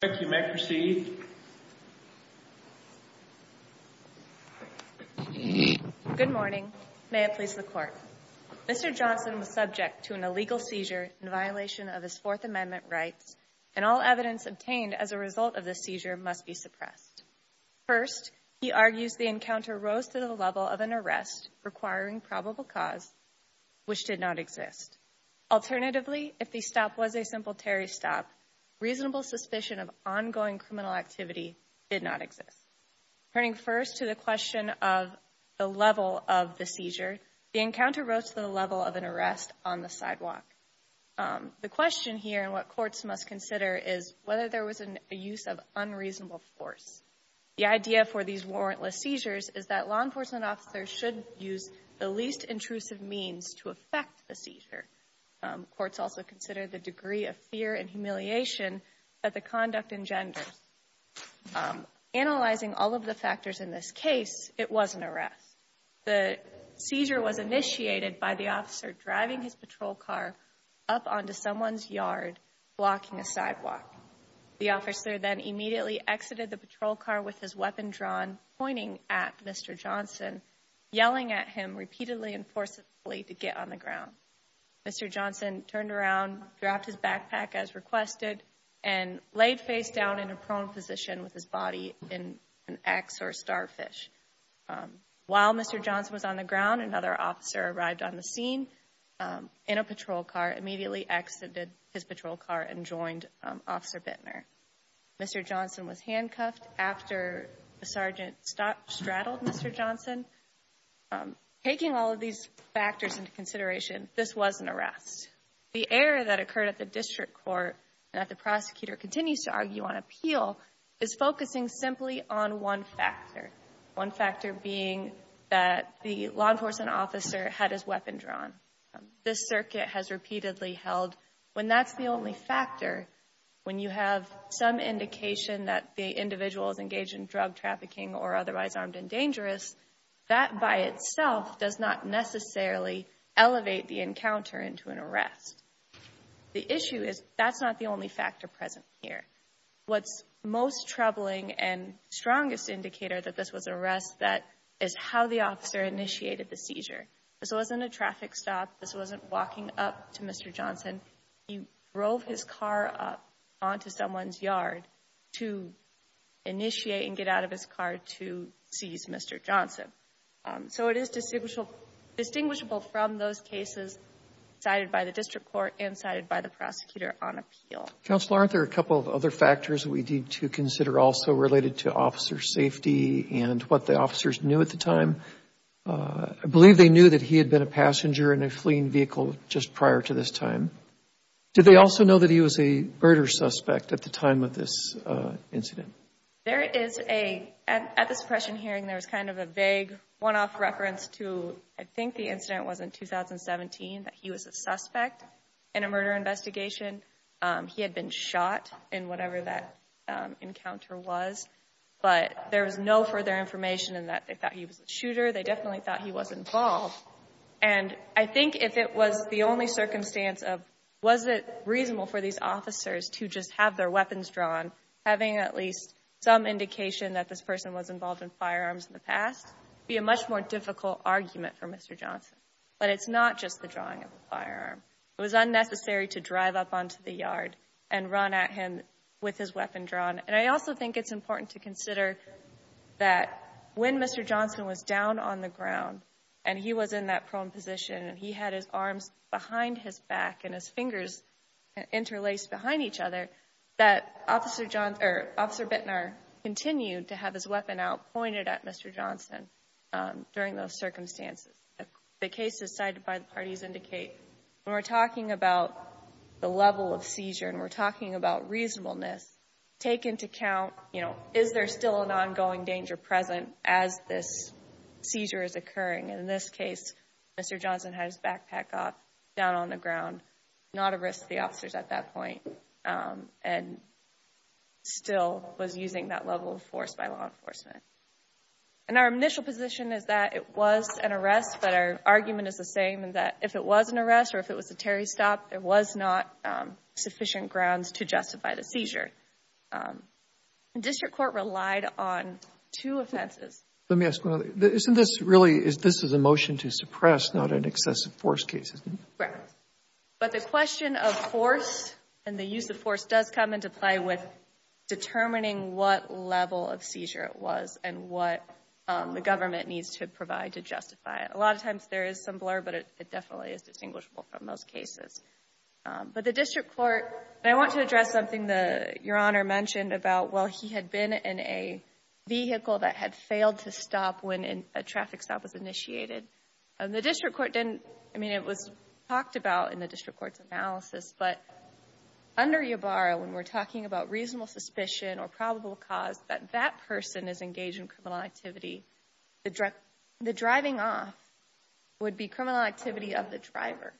Good morning. May it please the Court. Mr. Johnson was subject to an illegal seizure in violation of his Fourth Amendment rights, and all evidence obtained as a result of this seizure must be suppressed. First, he argues the encounter rose to the level of an arrest requiring probable cause, which did not exist. Alternatively, if the stop was a simple Terry stop, reasonable suspicion of ongoing criminal activity did not exist. Turning first to the question of the level of the seizure, the encounter rose to the level of an arrest on the sidewalk. The question here and what courts must consider is whether there was a use of unreasonable force. The idea for these warrantless seizures is that law enforcement officers should use the least intrusive means to affect the seizure. Courts also consider the degree of humiliation that the conduct engenders. Analyzing all of the factors in this case, it was an arrest. The seizure was initiated by the officer driving his patrol car up onto someone's yard, blocking a sidewalk. The officer then immediately exited the patrol car with his weapon drawn, pointing at Mr. Johnson, yelling at him repeatedly and forcibly to get on the ground. Mr. Johnson turned and laid face down in a prone position with his body in an ax or starfish. While Mr. Johnson was on the ground, another officer arrived on the scene in a patrol car, immediately exited his patrol car and joined Officer Bittner. Mr. Johnson was handcuffed after the sergeant straddled Mr. Johnson. Taking all of these factors into consideration, this was an arrest. The error that occurred at the district court and that the prosecutor continues to argue on appeal is focusing simply on one factor. One factor being that the law enforcement officer had his weapon drawn. This circuit has repeatedly held when that's the only factor. When you have some indication that the individual is engaged in drug trafficking or otherwise armed and dangerous, that by itself does not necessarily elevate the encounter into an arrest. The issue is that's not the only factor present here. What's most troubling and strongest indicator that this was an arrest, that is how the officer initiated the seizure. This wasn't a traffic stop. This wasn't walking up to Mr. Johnson. He drove his car up onto someone's yard to initiate and get out of his car to seize Mr. Johnson. So it is distinguishable from those cases cited by the district court and cited by the prosecutor on appeal. Counsel, aren't there a couple of other factors we need to consider also related to officer safety and what the officers knew at the time? I believe they knew that he had been a passenger in a at the time of this incident. There is a, at this pressure hearing, there was kind of a vague one-off reference to, I think the incident was in 2017, that he was a suspect in a murder investigation. He had been shot in whatever that encounter was, but there was no further information and that they thought he was a shooter. They definitely thought he was involved. And I think if it was the only circumstance of, was it reasonable for these officers to just have their weapons drawn, having at least some indication that this person was involved in firearms in the past, be a much more difficult argument for Mr. Johnson. But it's not just the drawing of a firearm. It was unnecessary to drive up onto the yard and run at him with his weapon drawn. And I also think it's important to consider that when Mr. Johnson was down on the ground and he was in that prone position and he had his arms behind his back and his fingers interlaced behind each other, that Officer Bittner continued to have his weapon out pointed at Mr. Johnson during those circumstances. The cases cited by the parties indicate when we're talking about the level of seizure and we're talking about reasonableness, take into account, you know, is there still an ongoing danger present as this seizure is occurring? And in this case, Mr. Johnson had his backpack off down on the ground, not a risk to the officers at that point and still was using that level of force by law enforcement. And our initial position is that it was an arrest, but our argument is the same and that if it was an arrest or if it was a Terry stop, there was not sufficient grounds to justify the seizure. District Court relied on two offenses. Let me ask one other. Isn't this really, this is a motion to suppress, not an excessive force case? Right. But the question of force and the use of force does come into play with determining what level of seizure it was and what the government needs to provide to justify it. A lot of times there is some blur, but it definitely is distinguishable from most cases. But the District Court, and I want to address something that Your Honor mentioned about, well, he had been in a vehicle that had failed to stop when a traffic stop was initiated. And the District Court didn't, I mean, it was talked about in the District Court's analysis, but under Yabarra, when we're talking about reasonable suspicion or probable cause that that person is engaged in criminal activity, the driving off would be criminal activity of the driver.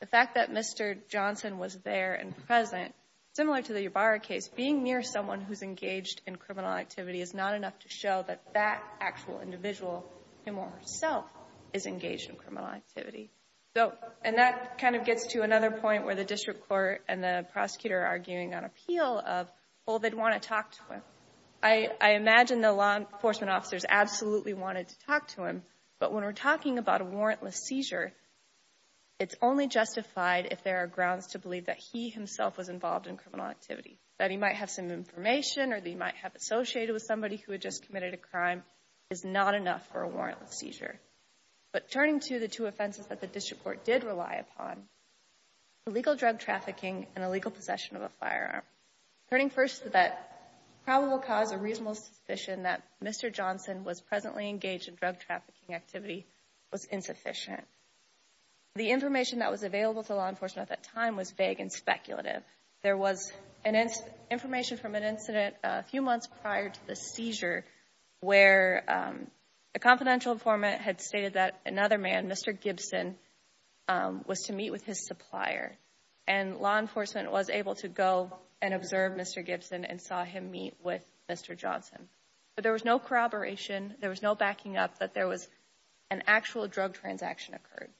The fact that Mr. Johnson was there and present, similar to the Yabarra case, being near someone who's engaged in criminal activity is not enough to show that that actual individual, him or herself, is engaged in criminal activity. So, and that kind of gets to another point where the District Court and the prosecutor are arguing on appeal of, well, they'd want to talk to him. I imagine the law enforcement officers absolutely wanted to talk to him, but when we're talking about a warrantless seizure, it's only justified if there are grounds to that he might have some information or that he might have associated with somebody who had just committed a crime is not enough for a warrantless seizure. But turning to the two offenses that the District Court did rely upon, illegal drug trafficking and illegal possession of a firearm. Turning first to that probable cause or reasonable suspicion that Mr. Johnson was presently engaged in drug trafficking activity was insufficient. The information that was available to law enforcement at that time was vague and speculative. There was information from an incident a few months prior to the seizure where a confidential informant had stated that another man, Mr. Gibson, was to meet with his supplier and law enforcement was able to go and observe Mr. Gibson and saw him meet with Mr. Johnson. But there was no corroboration, there was no backing up that there was an actual drug transaction occurred.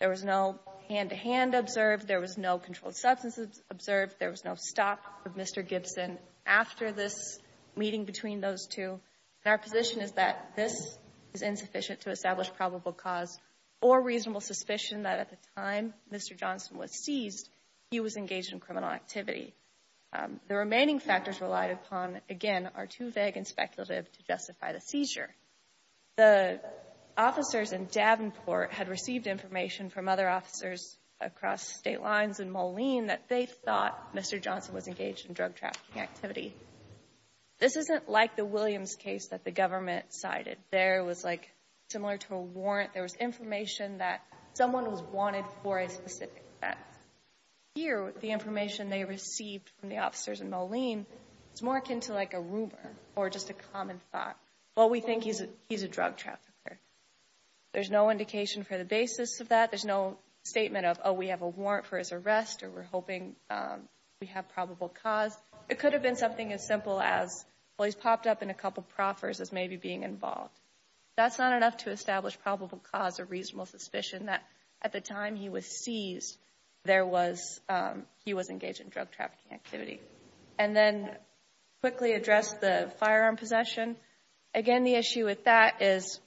There was no hand-to-hand observed, there was no controlled substance observed, there was no stop of Mr. Gibson after this meeting between those two. And our position is that this is insufficient to establish probable cause or reasonable suspicion that at the time Mr. Johnson was seized, he was engaged in criminal activity. The remaining factors relied upon, again, are too vague and speculative to justify the seizure. The officers in Davenport had received information from other officers across state lines in Moline that they thought Mr. Johnson was engaged in drug trafficking activity. This isn't like the Williams case that the government cited. There was, like, similar to a warrant, there was information that someone was wanted for a specific offense. Here, the information they received from the officers in Moline is more akin to, like, a rumor or just a common thought. Well, we think he's a drug trafficker. There's no indication for the basis of that. There's no statement of, oh, we have a warrant for his arrest or we're hoping we have probable cause. It could have been something as simple as, well, he's popped up in a couple proffers as maybe being involved. That's not enough to establish probable cause or reasonable suspicion that at the time he was seized, he was engaged in drug trafficking activity. And then quickly address the firearm possession. Again, the issue with that is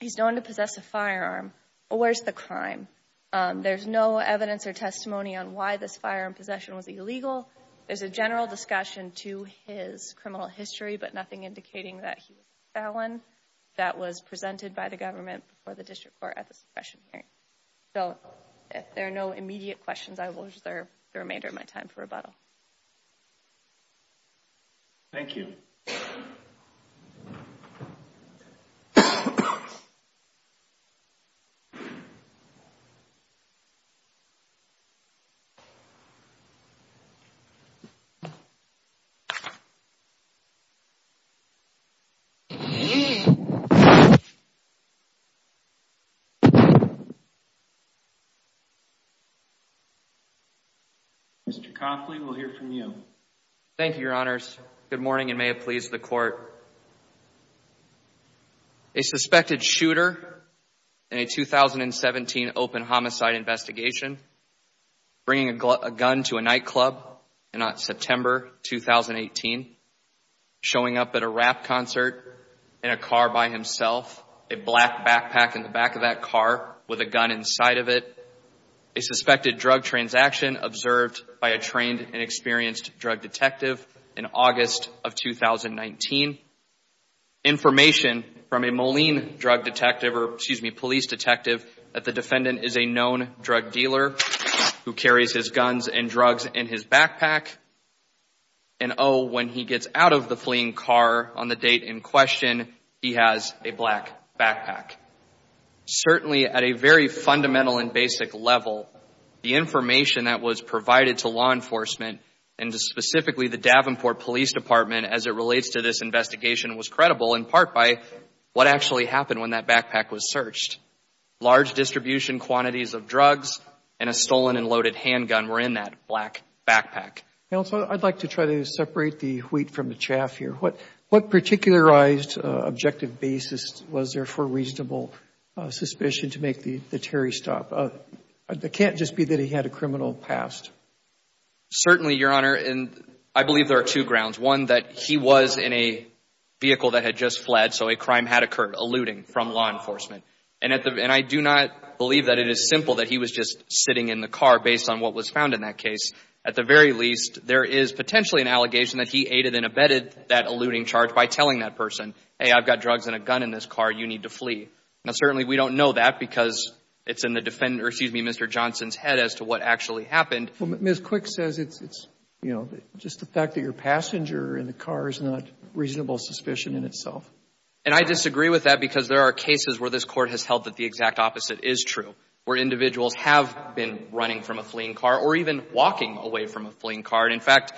he's known to possess a firearm, but where's the crime? There's no evidence or testimony on why this firearm possession was illegal. There's a general discussion to his criminal history, but nothing indicating that he was a felon that was presented by the government before the district court at the suppression hearing. So if there are no immediate questions, I will reserve the remainder of my time for rebuttal. Thank you. Mr. Copley, we'll hear from you. Thank you, your honors. Good morning and may it please the court. A suspected shooter in a 2017 open homicide investigation, bringing a gun to a nightclub in September 2018, showing up at a rap concert in a car by himself, a black backpack in the back of that car with a gun inside of it. A suspected drug transaction observed by a trained and experienced drug detective in August of 2019. Information from a Moline drug detective, or excuse me, police detective, that the defendant is a known drug dealer who carries his guns and drugs in his backpack and oh, when he gets out of the fleeing car on the date in question, he has a black backpack. Certainly at a very fundamental and basic level, the information that was provided to law enforcement and specifically the Davenport Police Department as it relates to this investigation was credible in part by what actually happened when that backpack was searched. Large distribution quantities of drugs and a stolen and loaded handgun were in that black backpack. Counselor, I'd like to try to separate the wheat from the chaff here. What particularized objective basis was there for reasonable suspicion to make the Terry stop? It can't just be that he had a criminal past. Certainly, your honor, I believe there are two grounds. One, that he was in a vehicle that had just fled, so a crime had occurred, alluding from law enforcement. And I do not believe that it is simple that he was just sitting in the car based on what was found in that case. At the very least, there is potentially an allegation that he aided and abetted that alluding charge by telling that person, hey, I've got drugs and a gun in this car, you need to flee. Now, certainly, we don't know that because it's in the defendant, or excuse me, Mr. Johnson's head as to what actually happened. Ms. Quick says it's, you know, just the fact that your passenger in the car is not reasonable suspicion in itself. And I disagree with that because there are cases where this court has held that the exact opposite is true, where individuals have been running from a fleeing car or even walking away from a fleeing car. And in fact,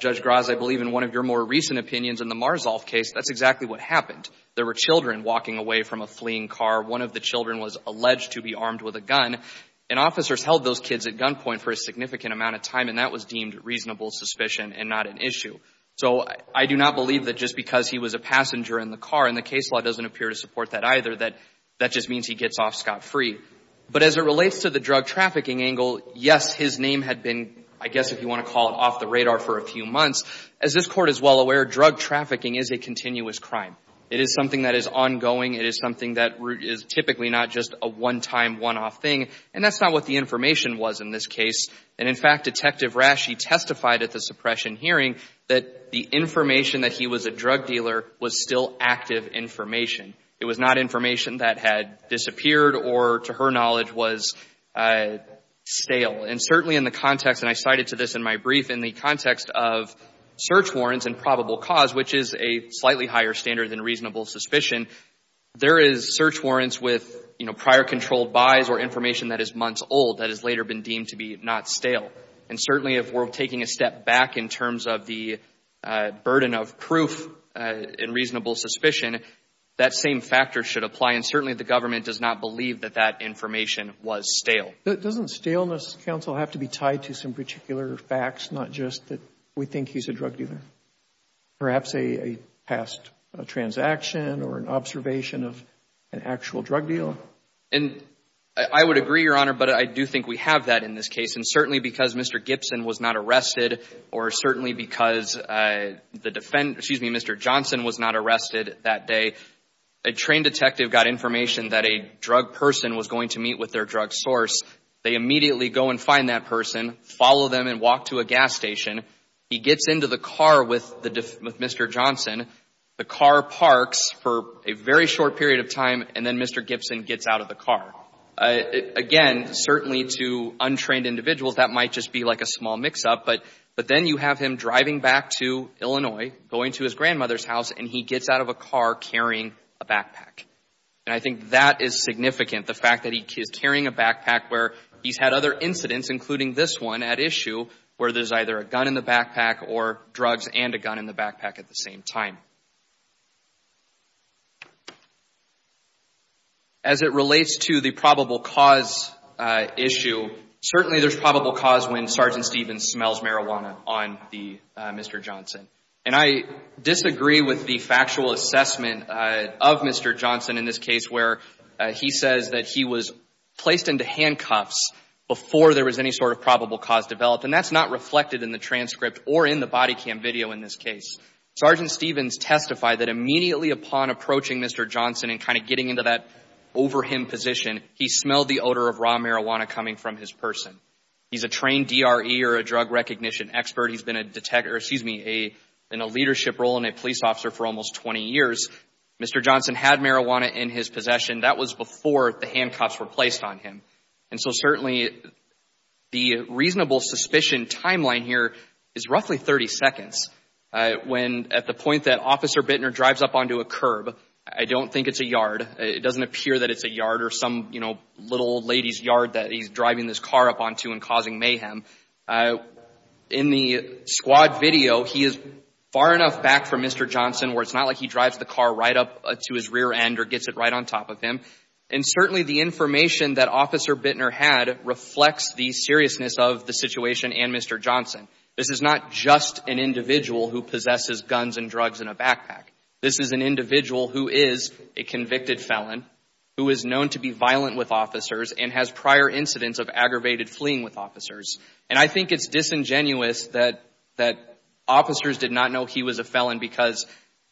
Judge Graz, I believe in one of your more recent opinions in the Marzolf case, that's exactly what happened. There were children walking away from a fleeing car. One of the children was alleged to be armed with a gun, and officers held those kids at gunpoint for a significant amount of time, and that was deemed reasonable suspicion and not an issue. So I do not believe that just because he was a passenger in the car, and the case law doesn't appear to support that either, that that just means he gets off scot-free. But as it relates to the drug trafficking angle, yes, his name had been, I guess if you want to call it, off the radar for a few months. As this court is well aware, drug trafficking is a continuous crime. It is something that is ongoing. It is something that is typically not just a one-time, one-off thing, and that's not what the information was in this And in fact, Detective Rasche testified at the suppression hearing that the information that he was a drug dealer was still active information. It was not information that had disappeared or, to her knowledge, was stale. And certainly in the context, and I cited to this in my brief, in the context of search warrants and probable cause, which is a slightly higher standard than reasonable suspicion, there is search warrants with, you know, prior controlled buys or information that is months old that has later been deemed to be not stale. And certainly if we're taking a step back in terms of the burden of proof in reasonable suspicion, that same factor should apply. And certainly the government does not believe that that information was stale. Doesn't staleness, counsel, have to be tied to some particular facts, not just that we think he's a drug dealer? Perhaps a past transaction or an observation of an actual drug deal? And I would agree, Your Honor, but I do think we have that in this case. And certainly because Mr. Gibson was not arrested or certainly because the defendant, excuse me, Mr. Johnson was not arrested that day, a trained detective got information that a drug person was going to meet with their drug source. They immediately go and find that person, follow them and walk to a gas station. He gets into the car with Mr. Johnson. The car parks for a very short period of time. And then Mr. Gibson gets out of the car. Again, certainly to untrained individuals, that might just be like a small mix-up. But then you have him driving back to Illinois, going to his grandmother's house, and he gets out of a car carrying a backpack. And I think that is significant. The fact that he is carrying a backpack where he's had other incidents, including this one at issue, where there's either a gun in the backpack or drugs and a gun in the backpack. As it relates to the probable cause issue, certainly there's probable cause when Sergeant Stevens smells marijuana on Mr. Johnson. And I disagree with the factual assessment of Mr. Johnson in this case where he says that he was placed into handcuffs before there was any sort of probable cause developed. And that's not reflected in the transcript or in the body cam video in this case. Sergeant Stevens testified that immediately upon approaching Mr. Johnson and kind of getting into that over him position, he smelled the odor of raw marijuana coming from his person. He's a trained DRE or a drug recognition expert. He's been a detective, or excuse me, in a leadership role in a police officer for almost 20 years. Mr. Johnson had marijuana in his possession. That was before the handcuffs were placed on him. And so certainly the reasonable suspicion timeline here is roughly 30 seconds. When at the point that it doesn't appear that it's a yard or some, you know, little lady's yard that he's driving this car up onto and causing mayhem, in the squad video, he is far enough back from Mr. Johnson where it's not like he drives the car right up to his rear end or gets it right on top of him. And certainly the information that Officer Bittner had reflects the seriousness of the situation and Mr. Johnson. This is not just an individual who possesses guns and drugs in a felon who is known to be violent with officers and has prior incidents of aggravated fleeing with officers. And I think it's disingenuous that officers did not know he was a felon because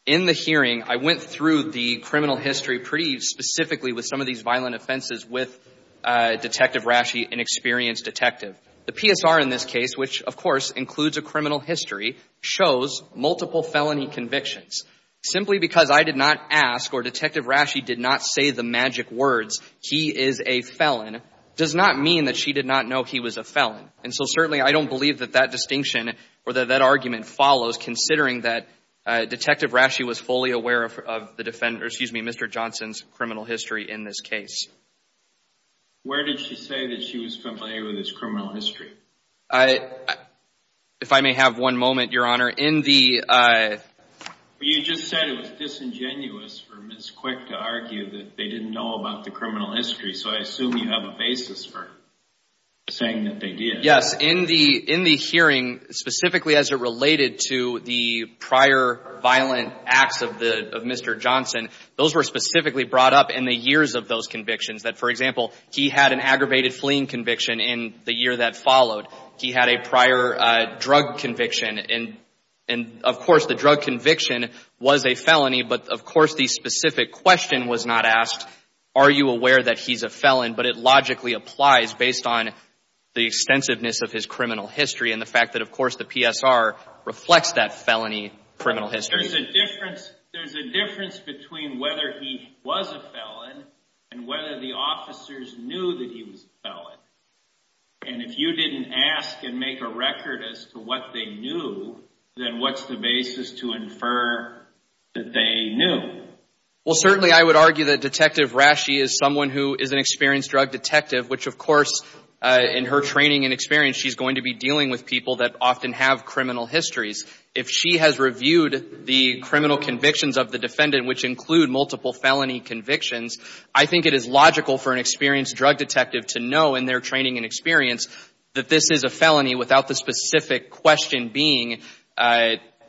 in the hearing, I went through the criminal history pretty specifically with some of these violent offenses with Detective Rasche, an experienced detective. The PSR in this case, which of course includes a criminal history, shows multiple felony convictions. Simply because I did not ask or Detective Rasche did not say the magic words, he is a felon, does not mean that she did not know he was a felon. And so certainly I don't believe that that distinction or that argument follows considering that Detective Rasche was fully aware of the defendant, excuse me, Mr. Johnson's criminal history in this case. Where did she say that she was familiar with his criminal history? So I assume you have a basis for saying that they did. Yes. In the hearing, specifically as it related to the prior violent acts of Mr. Johnson, those were specifically brought up in the years of those convictions. That, for example, he had an aggravated fleeing conviction in the year that followed. He had a prior drug conviction. And of course, the drug specific question was not asked, are you aware that he's a felon? But it logically applies based on the extensiveness of his criminal history and the fact that, of course, the PSR reflects that felony criminal history. There's a difference between whether he was a felon and whether the officers knew that he was a felon. And if you didn't ask and make a record as to what they knew, then what's the basis to infer that they knew? Well, certainly, I would argue that Detective Rasche is someone who is an experienced drug detective, which, of course, in her training and experience, she's going to be dealing with people that often have criminal histories. If she has reviewed the criminal convictions of the defendant, which include multiple felony convictions, I think it is logical for an experienced drug detective to know in their felony without the specific question being, do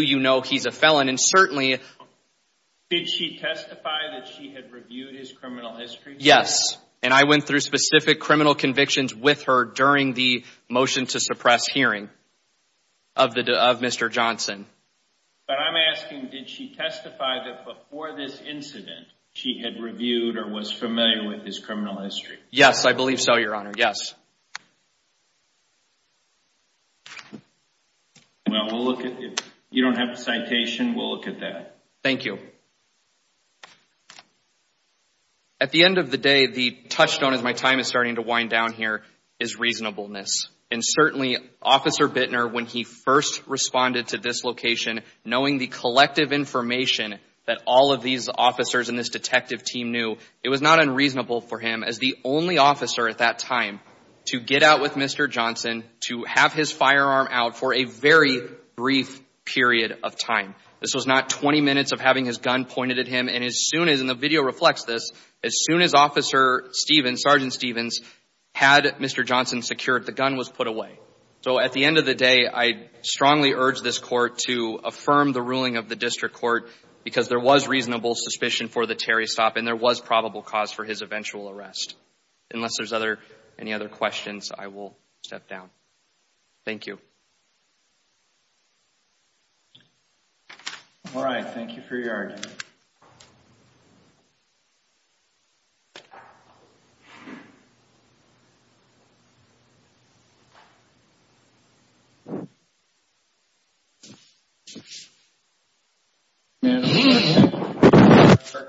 you know he's a felon? And certainly... Did she testify that she had reviewed his criminal history? Yes. And I went through specific criminal convictions with her during the motion to suppress hearing of Mr. Johnson. But I'm asking, did she testify that before this incident, she had reviewed or was familiar with his criminal history? Yes, I believe so, Your Honor. Yes. Well, we'll look at... If you don't have a citation, we'll look at that. Thank you. At the end of the day, the touchstone, as my time is starting to wind down here, is reasonableness. And certainly, Officer Bittner, when he first responded to this location, knowing the collective information that all of these officers in this detective team knew, it was not unreasonable for him, as the only officer at that time, to get out with Mr. Johnson, to have his firearm out for a very brief period of time. This was not 20 minutes of having his gun pointed at him. And as soon as, and the video reflects this, as soon as Officer Stevens, Sergeant Stevens, had Mr. Johnson secured, the gun was put away. So at the end of the day, I strongly urge this court to affirm the ruling of the district court, because there was reasonable suspicion for the Terry stop, and there was probable cause for his eventual arrest. Unless there's other, any other questions, I will step down. Thank you. All right. Thank you for your argument. And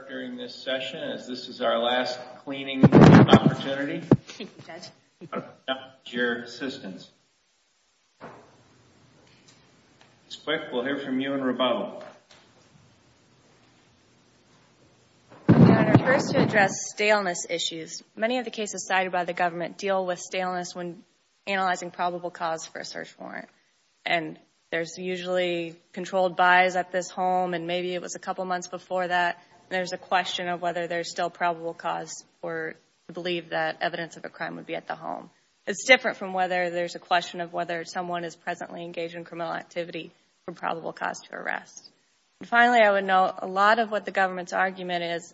during this session, as this is our last cleaning opportunity, your assistance. Ms. Quick, we'll hear from you and Roboto. Your Honor, first to address staleness issues. Many of the cases cited by the government deal with staleness when analyzing probable cause for a search warrant. And there's usually controlled buys at this home, and maybe it was a couple months before that. And there's a question of whether there's still probable cause or believe that evidence of a crime would be at the home. It's different from whether there's a question of whether someone is presently engaged in criminal activity from probable cause to arrest. And finally, I would note a lot of what the government's argument is,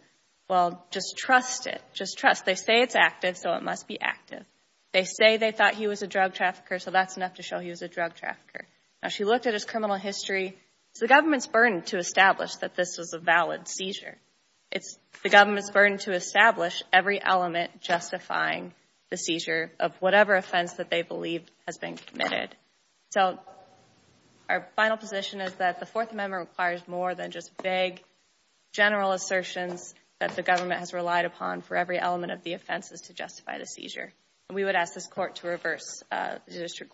well, just trust it. Just trust. They say it's active, so it must be active. They say they thought he was a drug trafficker, so that's enough to show he was a drug trafficker. It's the government's burden to establish that this was a valid seizure. It's the government's burden to establish every element justifying the seizure of whatever offense that they believe has been committed. So our final position is that the Fourth Amendment requires more than just vague general assertions that the government has relied upon for every element of the offenses to justify the seizure. And we would ask this court to reverse the decision.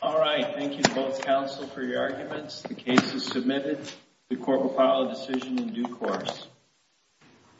All right. Thank you both, counsel, for your arguments. The case is submitted. The court will file a decision in due course.